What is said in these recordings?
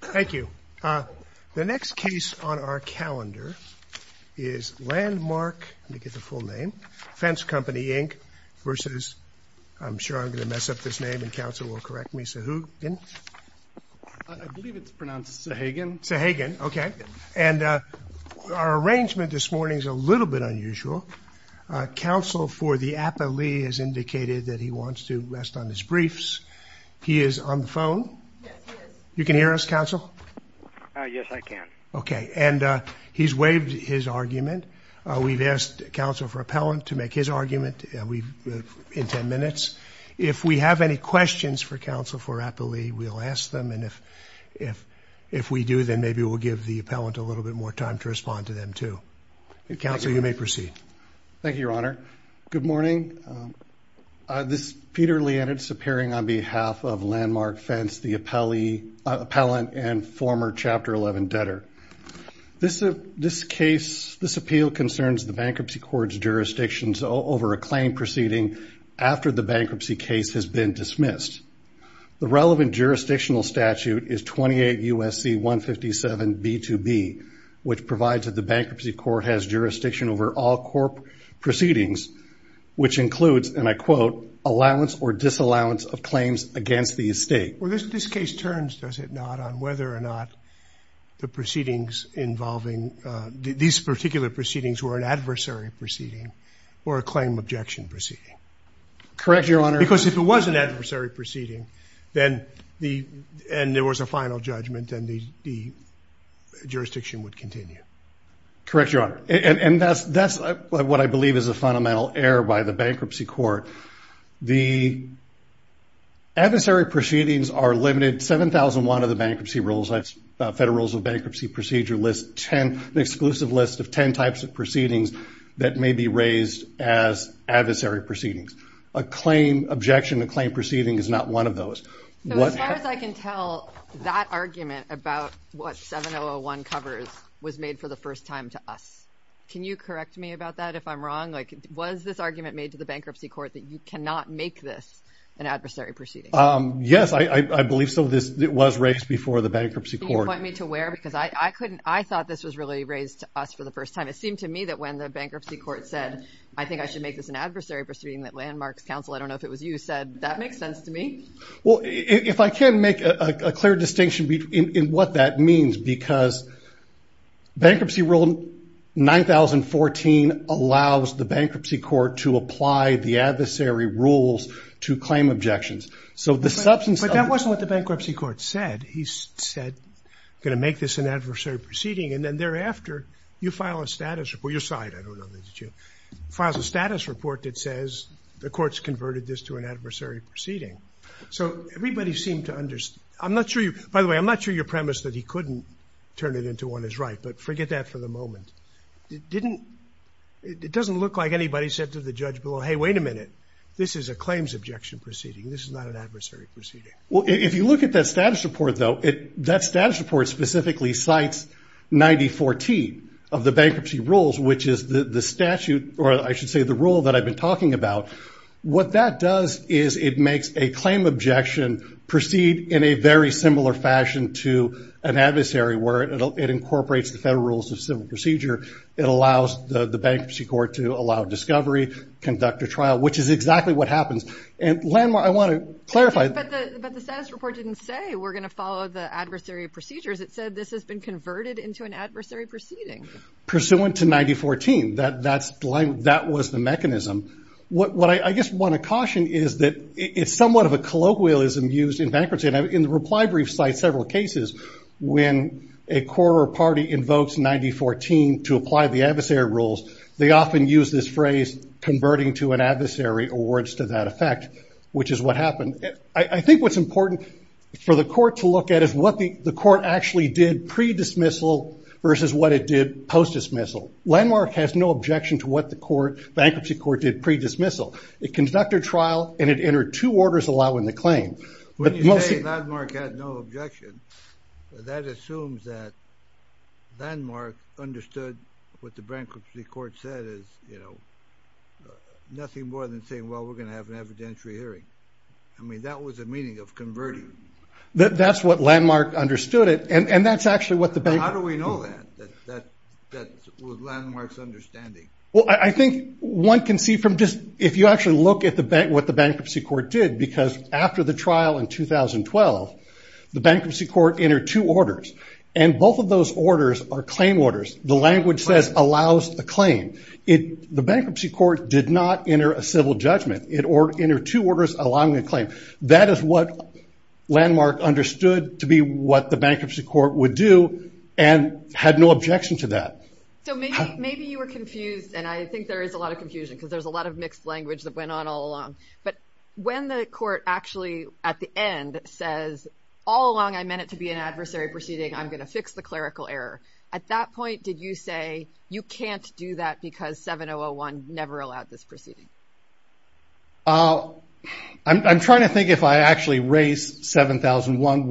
Thank you. The next case on our calendar is Landmark, let me get the full name, Fence Company Inc. v. I'm sure I'm gonna mess up this name and counsel will correct me, Sahagun. I believe it's pronounced Sahagun. Sahagun, okay. And our arrangement this morning is a little bit unusual. Counsel for the appellee has indicated that he wants to hear us, counsel? Yes, I can. Okay, and he's waived his argument. We've asked counsel for appellant to make his argument in ten minutes. If we have any questions for counsel for appellee, we'll ask them and if we do, then maybe we'll give the appellant a little bit more time to respond to them, too. Counsel, you may proceed. Thank you, Your Honor. Good morning. This is Peter Lienitz appearing on behalf of Landmark Fence, the appellant and former Chapter 11 debtor. This case, this appeal concerns the bankruptcy court's jurisdictions over a claim proceeding after the bankruptcy case has been dismissed. The relevant jurisdictional statute is 28 U.S.C. 157 B2B, which provides that the bankruptcy court has jurisdiction over all court proceedings which includes, and I quote, allowance or disallowance of claims against the estate. Well, this case turns, does it not, on whether or not the proceedings involving these particular proceedings were an adversary proceeding or a claim objection proceeding. Correct, Your Honor. Because if it was an adversary proceeding then the, and there was a final judgment and the jurisdiction would continue. Correct, Your Honor. And that's what I believe is a fundamental error by the bankruptcy court. The adversary proceedings are limited, 7,001 of the bankruptcy rules, that's Federal Rules of Bankruptcy Procedure list, 10, an exclusive list of 10 types of proceedings that may be raised as adversary proceedings. A claim objection, a claim proceeding is not one of those. So as far as I can tell, that argument about what 7,001 covers was made for the first time to us. Can you correct me about that if I'm wrong? Like, was this argument made to the bankruptcy court that you cannot make this an adversary proceeding? Yes, I believe so. This was raised before the bankruptcy court. Can you point me to where? Because I couldn't, I thought this was really raised to us for the first time. It seemed to me that when the bankruptcy court said, I think I should make this an adversary proceeding that Landmarks Council, I don't know if it was you said, that makes sense to me. Well, if I can make a clear distinction in what that means, because bankruptcy rule 9014 allows the bankruptcy court to apply the adversary rules to claim objections. So the substance... But that wasn't what the bankruptcy court said. He said, I'm going to make this an adversary proceeding, and then thereafter, you file a status report, your side, I don't know, files a status report that says the court's converted this to an adversary proceeding. So everybody seemed to understand. I'm not sure you, by the way, I'm not sure your premise that he couldn't turn it into one is right, but forget that for the moment. It didn't, it doesn't look like anybody said to the judge below, hey, wait a minute, this is a claims objection proceeding. This is not an adversary proceeding. Well, if you look at that status report, though, that status report specifically cites 9014 of the bankruptcy rules, which is the statute, or I should say the rule that I've been talking about. What that does is it makes a claim objection proceed in a very similar fashion to an adversary where it incorporates the federal rules of civil procedure. It allows the bankruptcy court to allow discovery, conduct a trial, which is exactly what happens. And Landmar, I want to clarify. But the status report didn't say we're going to follow the adversary procedures. It said this has been converted into an adversary. At the time, that was the mechanism. What I just want to caution is that it's somewhat of a colloquialism used in bankruptcy. In the reply brief cites several cases when a court or party invokes 9014 to apply the adversary rules, they often use this phrase converting to an adversary or words to that effect, which is what happened. I think what's important for the court to look at is what the court actually did pre-dismissal versus what it did post-dismissal. Landmar has no objection to what the bankruptcy court did pre-dismissal. It conducted a trial and it entered two orders allowing the claim. When you say Landmar had no objection, that assumes that Landmar understood what the bankruptcy court said is, you know, nothing more than saying, well, we're going to have an evidentiary hearing. I mean, that was the meaning of converting. That's what Landmar understood it. And that's actually what the bank... How do we know that? That was Landmar's understanding. Well, I think one can see from just... If you actually look at what the bankruptcy court did, because after the trial in 2012, the bankruptcy court entered two orders. And both of those orders are claim orders. The language says allows a claim. The bankruptcy court did not enter a civil judgment. It entered two orders allowing a claim. That is what Landmar understood to be what the bankruptcy court would do and had no objection to that. So maybe you were confused, and I think there is a lot of confusion because there's a lot of mixed language that went on all along. But when the court actually at the end says, all along I meant it to be an adversary proceeding, I'm going to fix the clerical error. At that point, did you say you can't do that because 7001 never allowed this proceeding? I'm trying to think if I actually raised 7001,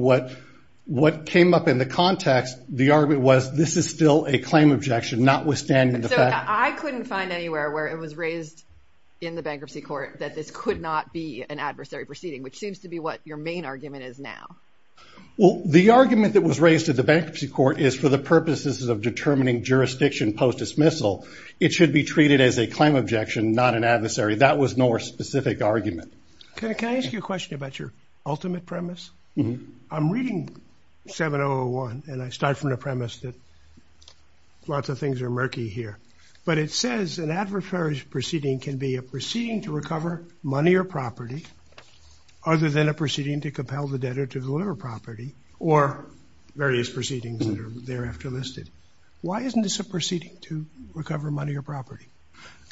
what came up in the context, the argument was this is still a claim objection, notwithstanding the fact... So I couldn't find anywhere where it was raised in the bankruptcy court that this could not be an adversary proceeding, which seems to be what your main argument is now. Well, the argument that was raised at the bankruptcy court is for the purposes of determining jurisdiction post dismissal, it should be treated as a claim objection, not an adversary that was no specific argument. Can I ask you a question about your ultimate premise? I'm reading 7001, and I start from the premise that lots of things are murky here, but it says an adversary proceeding can be a proceeding to recover money or property, other than a proceeding to compel the debtor to deliver property, or various proceedings that are thereafter listed.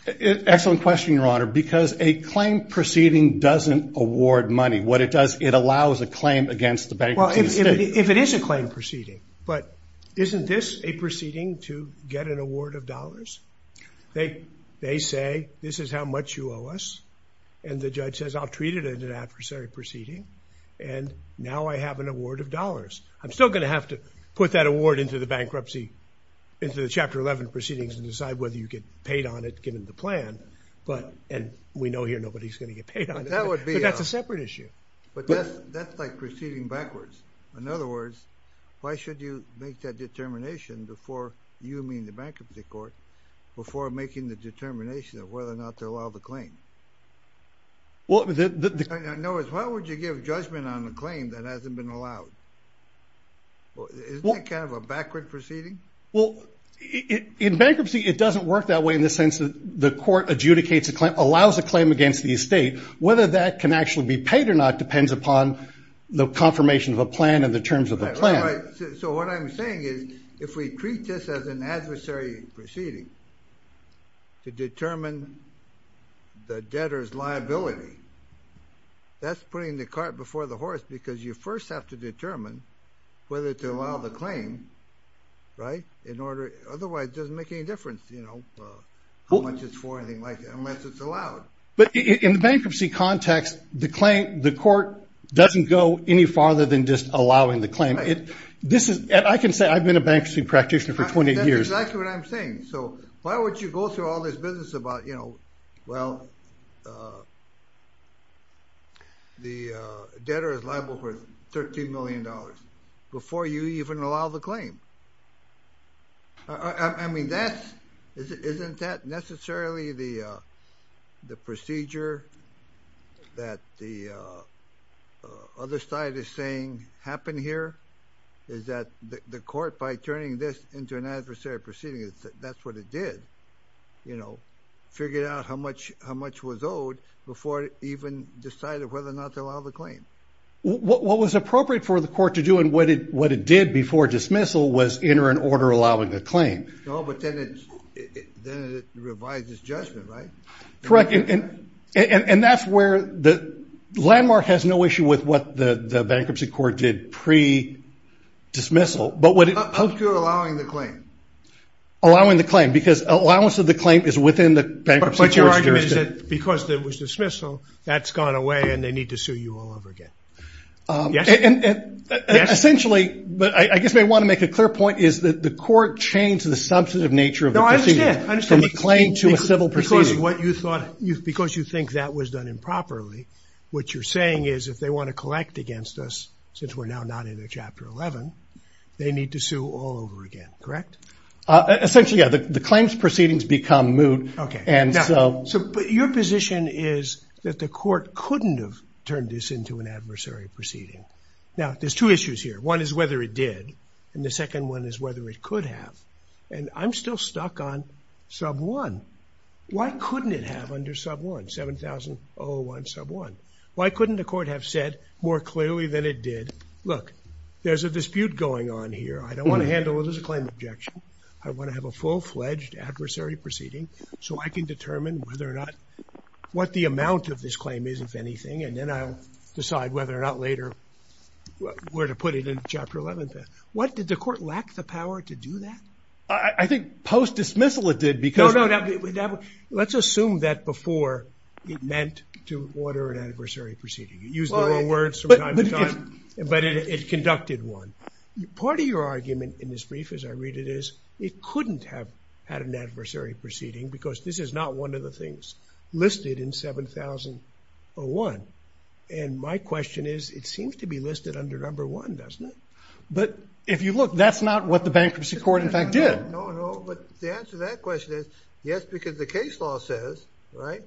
Excellent question, Your Honor, because a claim proceeding doesn't award money. What it does, it allows a claim against the bank... Well, if it is a claim proceeding, but isn't this a proceeding to get an award of dollars? They say, this is how much you owe us, and the judge says, I'll treat it as an adversary proceeding, and now I have an award of dollars. I'm still gonna have to put that award into the bankruptcy, into the Chapter 11 proceedings, and decide whether you get paid on it, given the plan, but... And we know here nobody's gonna get paid on it. That would be... But that's a separate issue. But that's like proceeding backwards. In other words, why should you make that determination before you mean the bankruptcy court, before making the determination of whether or not to allow the claim? In other words, why would you give judgment on a claim that hasn't been allowed? Isn't that kind of a backward proceeding? Well, in bankruptcy, it doesn't work that way in the sense that the court adjudicates a claim, allows a claim against the estate. Whether that can actually be paid or not, depends upon the confirmation of a plan and the terms of the plan. That's right. So what I'm saying is, if we treat this as an adversary proceeding to determine the debtor's liability, that's putting the cart before the horse, because you first have to determine whether to allow the claim, right? In order... Otherwise, it doesn't make any difference how much it's for or anything like that, unless it's allowed. But in the bankruptcy context, the court doesn't go any farther than just allowing the claim. I can say I've been a bankruptcy practitioner for 20 years. That's exactly what I'm saying. So why would you go through all this business about, well, the debtor is liable for $13 million before you even allow the claim? Isn't that necessarily the procedure that the other side is saying happen here? Is that the court, by turning this into an adversary proceeding, that's what it did? Figured out how much was owed before it even decided whether or not to allow the claim. What was appropriate for the court to do and what it did before dismissal was enter an order allowing the claim. No, but then it revised its judgment, right? Correct. And that's where the landmark has no issue with what the bankruptcy court did pre- allowing the claim, because allowance of the claim is within the bankruptcy court's jurisdiction. But your argument is that because there was dismissal, that's gone away and they need to sue you all over again. Yes. Essentially, but I guess I want to make a clear point is that the court changed the substantive nature of the proceedings. No, I understand. From a claim to a civil proceeding. Because what you thought, because you think that was done improperly, what you're saying is if they want to collect against us, since we're now not in a Chapter 11, they need to sue all over again, correct? Essentially, yeah. The claims proceedings become moot. Okay. And so... But your position is that the court couldn't have turned this into an adversary proceeding. Now, there's two issues here. One is whether it did, and the second one is whether it could have. And I'm still stuck on Sub 1. Why couldn't it have under Sub 1, 7,001 Sub 1? Why couldn't the court have said more clearly than it did, look, there's a dispute going on here. I don't want to handle it as a claim of objection. I want to have a full-fledged adversary proceeding so I can determine whether or not, what the amount of this claim is, if anything, and then I'll decide whether or not later where to put it in Chapter 11. What, did the court lack the power to do that? I think post-dismissal it did because... No, no. Let's assume that before it meant to order an adversary proceeding. You use the wrong words from time to time, but it conducted one. Part of your argument in this brief, as I read it, is it couldn't have had an adversary proceeding because this is not one of the things listed in 7,001. And my question is, it seems to be listed under Number 1, doesn't it? But if you look, that's not what the bankruptcy court, in fact, did. No, no. But the answer to that question is, yes, because the case law says, right,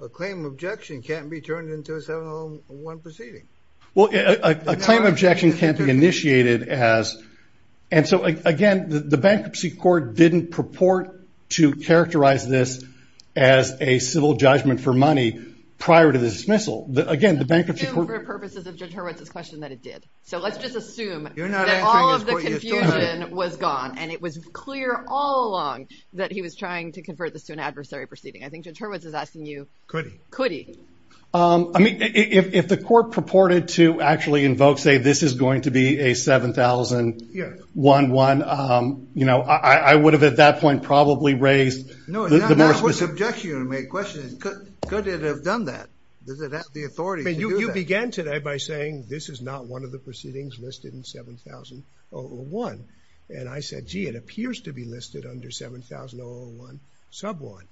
a claim of objection can't be turned into a 7,001 proceeding. Well, a claim of objection can't be initiated as... And so, again, the bankruptcy court didn't purport to characterize this as a civil judgment for money prior to the dismissal. Again, the bankruptcy court... Let's assume, for purposes of Judge Hurwitz's question, that it did. So let's just assume that all of the confusion was gone and it was clear all along that he was trying to convert this to an adversary proceeding. I think Judge Hurwitz is asking you... Could the court purported to actually invoke, say, this is going to be a 7,001, I would have, at that point, probably raised the more specific... No, that's what's objection you're going to make. The question is, could it have done that? Does it have the authority to do that? You began today by saying, this is not one of the proceedings listed in 7,001. And I said, gee, it appears to be listed under 7,001, Sub 1.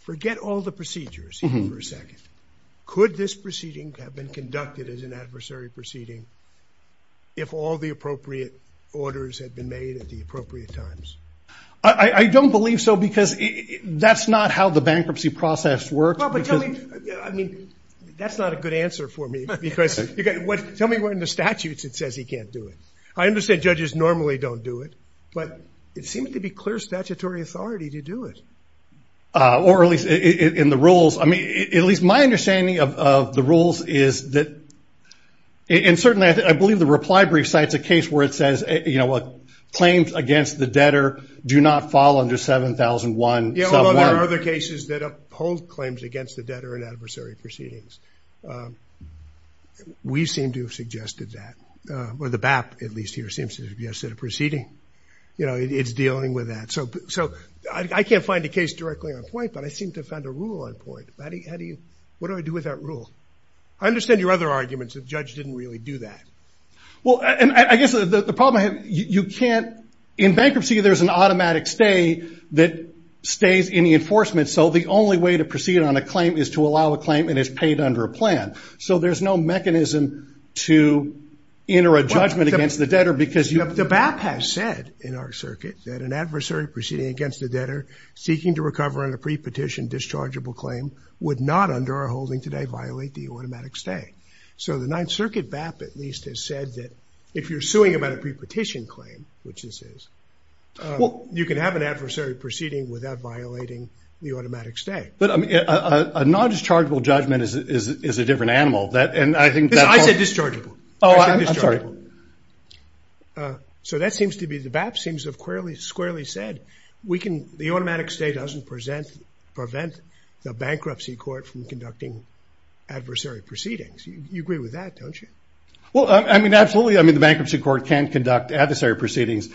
Forget all the procedures here for a second. Could this proceeding have been conducted as an adversary proceeding if all the appropriate orders had been made at the appropriate times? I don't believe so, because that's not how the bankruptcy process works. Well, but tell me... I mean, that's not a good answer for me, because... Tell me where in the statutes it says he can't do it. I understand judges normally don't do it, but it seems to be clear statutory authority to do it. Or at least in the rules. At least my understanding of the rules is that... And certainly, I believe the reply brief cites a case where it says, claims against the debtor do not fall under 7,001, Sub 1. Yeah, although there are other cases that uphold claims against the debtor in adversary proceedings. We seem to have suggested that, or the BAP, at least here, seems to have suggested a proceeding. It's dealing with that. So I can't find a case directly on point, but I seem to have found a rule on point. How do you... What do I do with that rule? I understand your other arguments that the judge didn't really do that. Well, and I guess the problem I have... You can't... In bankruptcy, there's an automatic stay that stays in the enforcement, so the only way to proceed on a claim is to allow a claim and it's paid under a plan. So there's no mechanism to enter a judgment against the debtor because you... The BAP has said in our circuit that an adversary proceeding against the debtor, seeking to recover on a pre petition dischargeable claim, would not under our holding today violate the automatic stay. So the Ninth Circuit BAP, at least, has said that if you're suing about a pre petition claim, which this is, you can have an adversary proceeding without violating the automatic stay. But a non dischargeable judgment is a different animal. That, and I think that's... I said dischargeable. Oh, I'm sorry. I said dischargeable. So that we can... The automatic stay doesn't present... Prevent the bankruptcy court from conducting adversary proceedings. You agree with that, don't you? Well, I mean, absolutely. I mean, the bankruptcy court can conduct adversary proceedings.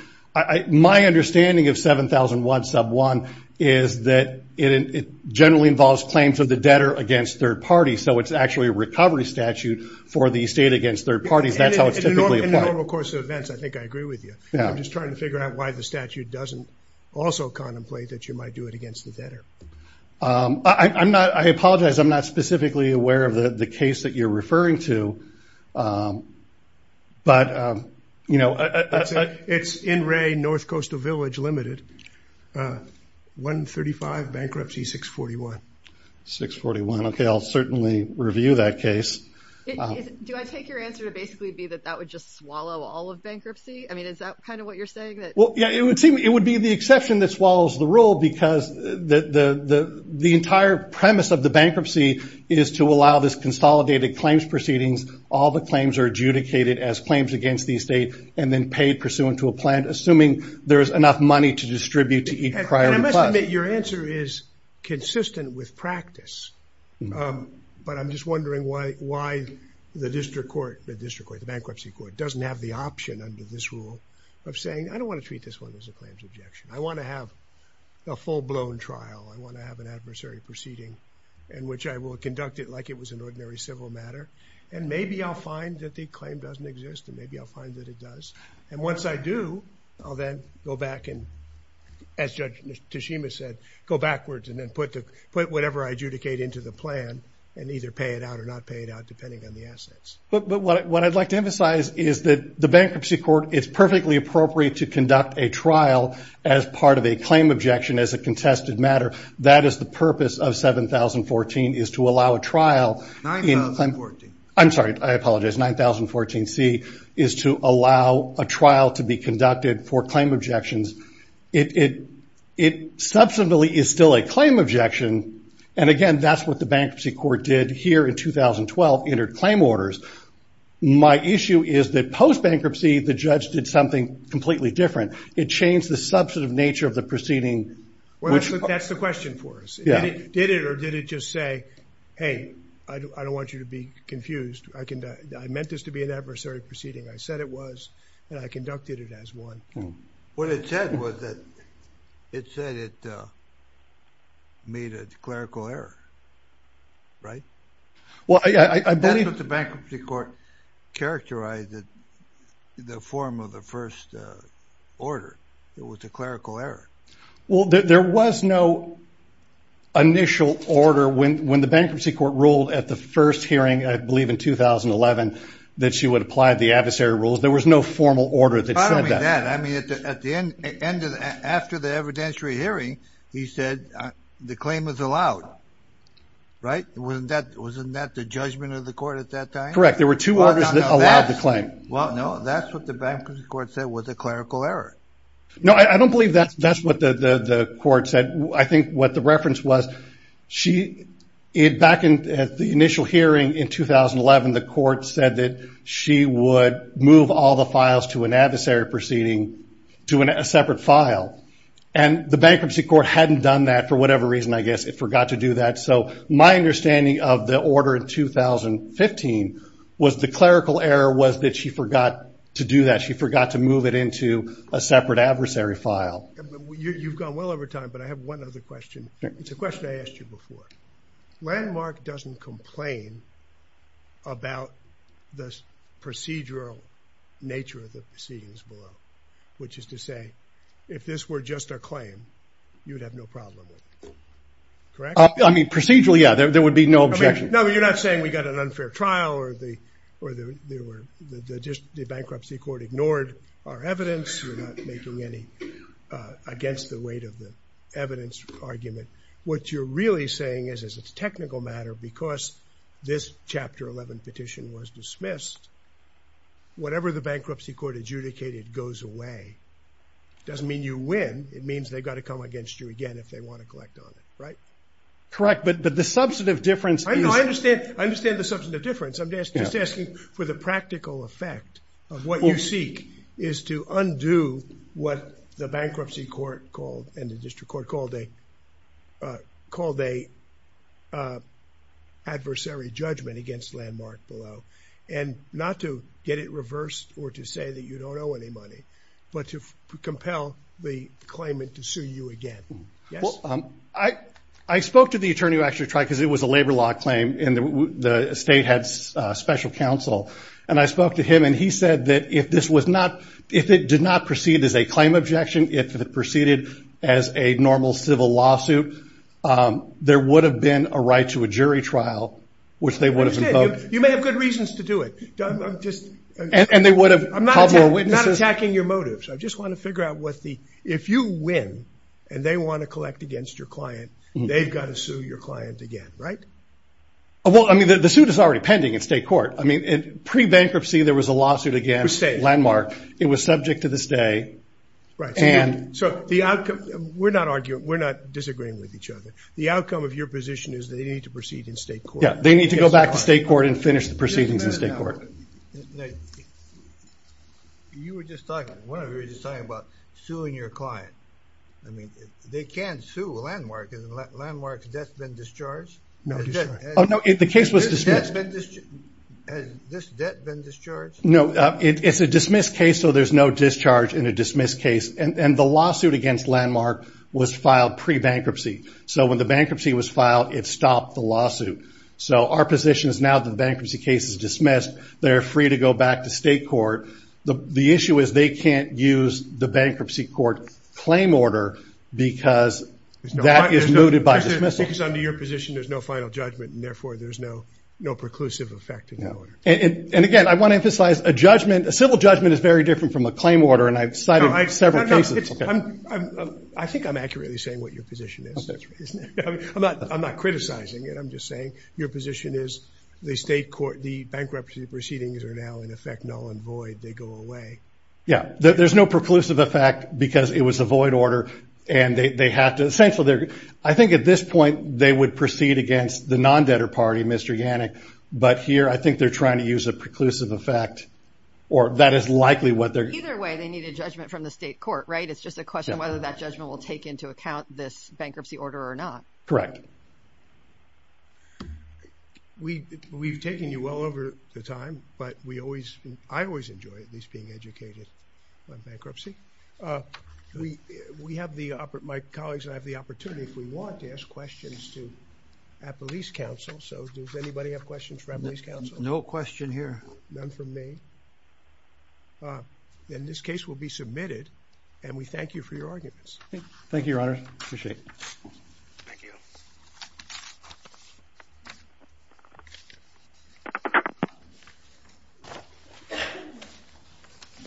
My understanding of 70001 sub 1 is that it generally involves claims of the debtor against third parties. So it's actually a recovery statute for the estate against third parties. That's how it's typically applied. In the normal course of events, I think I agree with you. I'm just trying to figure out why the statute doesn't also contemplate that you might do it against the debtor. I apologize, I'm not specifically aware of the case that you're referring to, but... It's in Ray, North Coastal Village Limited, 135 bankruptcy, 641. 641. Okay, I'll certainly review that case. Do I take your answer to basically be that that would just swallow all of bankruptcy? I mean, is that kind of what you're saying that... Well, yeah, it would seem... It would be the exception that swallows the rule because the entire premise of the bankruptcy is to allow this consolidated claims proceedings, all the claims are adjudicated as claims against the estate, and then paid pursuant to a plan, assuming there is enough money to distribute to each prior... And I must admit, your answer is consistent with practice, but I'm just wondering why the district court, the bankruptcy court doesn't have the option under this rule of saying, I don't wanna treat this one as a claims objection, I wanna have a full blown trial, I wanna have an adversary proceeding in which I will conduct it like it was an ordinary civil matter, and maybe I'll find that the claim doesn't exist, and maybe I'll find that it does, and once I do, I'll then go back and, as Judge Tashima said, go backwards and then put whatever I adjudicate into the plan, and either pay it out or not pay it out, depending on the assets. But what I'd like to emphasize is that the bankruptcy court, it's perfectly appropriate to conduct a trial as part of a claim objection as a contested matter. That is the purpose of 7014, is to allow a trial... 9014. I'm sorry, I apologize, 9014C is to allow a trial to be conducted for claim objections. It substantially is still a claim objection, and again, that's what the question is, is that post bankruptcy, the judge did something completely different. It changed the substantive nature of the proceeding... Well, that's the question for us. Did it or did it just say, hey, I don't want you to be confused, I meant this to be an adversary proceeding, I said it was, and I conducted it as one. What it said was that, it said it made a clerical error, right? Well, I believe... That's what the bankruptcy court characterized it, the form of the first order, it was a clerical error. Well, there was no initial order when the bankruptcy court ruled at the first hearing, I believe in 2011, that she would apply the adversary rules, there was no formal order that said that. Follow me on that, I mean, at the end, after the evidentiary hearing, he said the claim was allowed, right? Wasn't that the judgment of the court at that time? Correct, there were two orders that allowed the claim. Well, no, that's what the bankruptcy court said was a clerical error. No, I don't believe that's what the court said. I think what the reference was, she... Back at the initial hearing in 2011, the court said that she would move all the files to an adversary proceeding to a separate file. And the bankruptcy court hadn't done that for whatever reason, I guess, it forgot to do that. So my understanding of the order in 2015 was the clerical error was that she forgot to do that, she forgot to move it into a separate adversary file. You've gone well over time, but I have one other question. It's a question I asked you before. Landmark doesn't complain about the procedural nature of the case. If this were just a claim, you'd have no problem with it. Correct? Procedurally, yeah, there would be no objection. No, you're not saying we got an unfair trial or the bankruptcy court ignored our evidence, you're not making any against the weight of the evidence argument. What you're really saying is, as a technical matter, because this Chapter 11 petition was dismissed, whatever the bankruptcy court adjudicated goes away. Doesn't mean you win, it means they've got to come against you again if they want to collect on it, right? Correct, but the substantive difference is... I know, I understand the substantive difference. I'm just asking for the practical effect of what you seek is to undo what the bankruptcy court called, and the district court called, a adversary judgment against Landmark below. And not to get it reversed or to say that you compel the claimant to sue you again. Yes? Well, I spoke to the attorney who actually tried, because it was a labor law claim, and the state had special counsel. And I spoke to him and he said that if this was not... If it did not proceed as a claim objection, if it proceeded as a normal civil lawsuit, there would have been a right to a jury trial, which they would have invoked. You may have good reasons to do it. I'm just... And they would have... I'm not attacking your motives, I just want to figure out what the... If you win and they want to collect against your client, they've got to sue your client again, right? Well, I mean, the suit is already pending in state court. I mean, in pre bankruptcy, there was a lawsuit against Landmark. It was subject to this day. Right. And... So the outcome... We're not arguing... We're not disagreeing with each other. The outcome of your position is they need to proceed in state court. Yeah, they need to go back to state court and finish the proceedings in state court. Now, you were just talking... One of you was just talking about suing your client. I mean, they can't sue Landmark. Has Landmark's debt been discharged? No, it's not. Oh, no, the case was dismissed. Has this debt been discharged? No, it's a dismissed case, so there's no discharge in a dismissed case. And the lawsuit against Landmark was filed pre bankruptcy. So when the bankruptcy was filed, it stopped the lawsuit. So our position is now that the bankruptcy case is dismissed. They're free to go back to state court. The issue is they can't use the bankruptcy court claim order because that is mooted by dismissal. Because under your position, there's no final judgment, and therefore, there's no preclusive effect in that order. And again, I wanna emphasize, a judgment... A civil judgment is very different from a claim order, and I've cited several cases... No, no. I think I'm accurately saying what your position is. That's right, isn't it? I'm not criticizing it. I'm just saying your position is the state court, the bankruptcy proceedings are now in effect null and void. They go away. Yeah, there's no preclusive effect because it was a void order, and they have to... Essentially, I think at this point, they would proceed against the non-debtor party, Mr. Yannick. But here, I think they're trying to use a preclusive effect, or that is likely what they're... Either way, they need a judgment from the state court, right? It's just a question of whether that judgment will take into account this bankruptcy order or not. Correct. We've taken you well over the time, but we always... I always enjoy at least being educated on bankruptcy. We have the... My colleagues and I have the opportunity, if we want, to ask questions to Appellee's counsel. So does anybody have questions for Appellee's counsel? No question here. None from me. Then this case will be submitted, and we thank you for your arguments. Thank you, Your Honor. I appreciate it. Thank you. I'm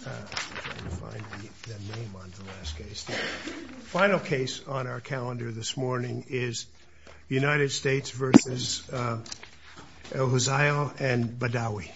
trying to find the name on the last case. The final case on our calendar this morning is United States versus El Huzail and Badawi.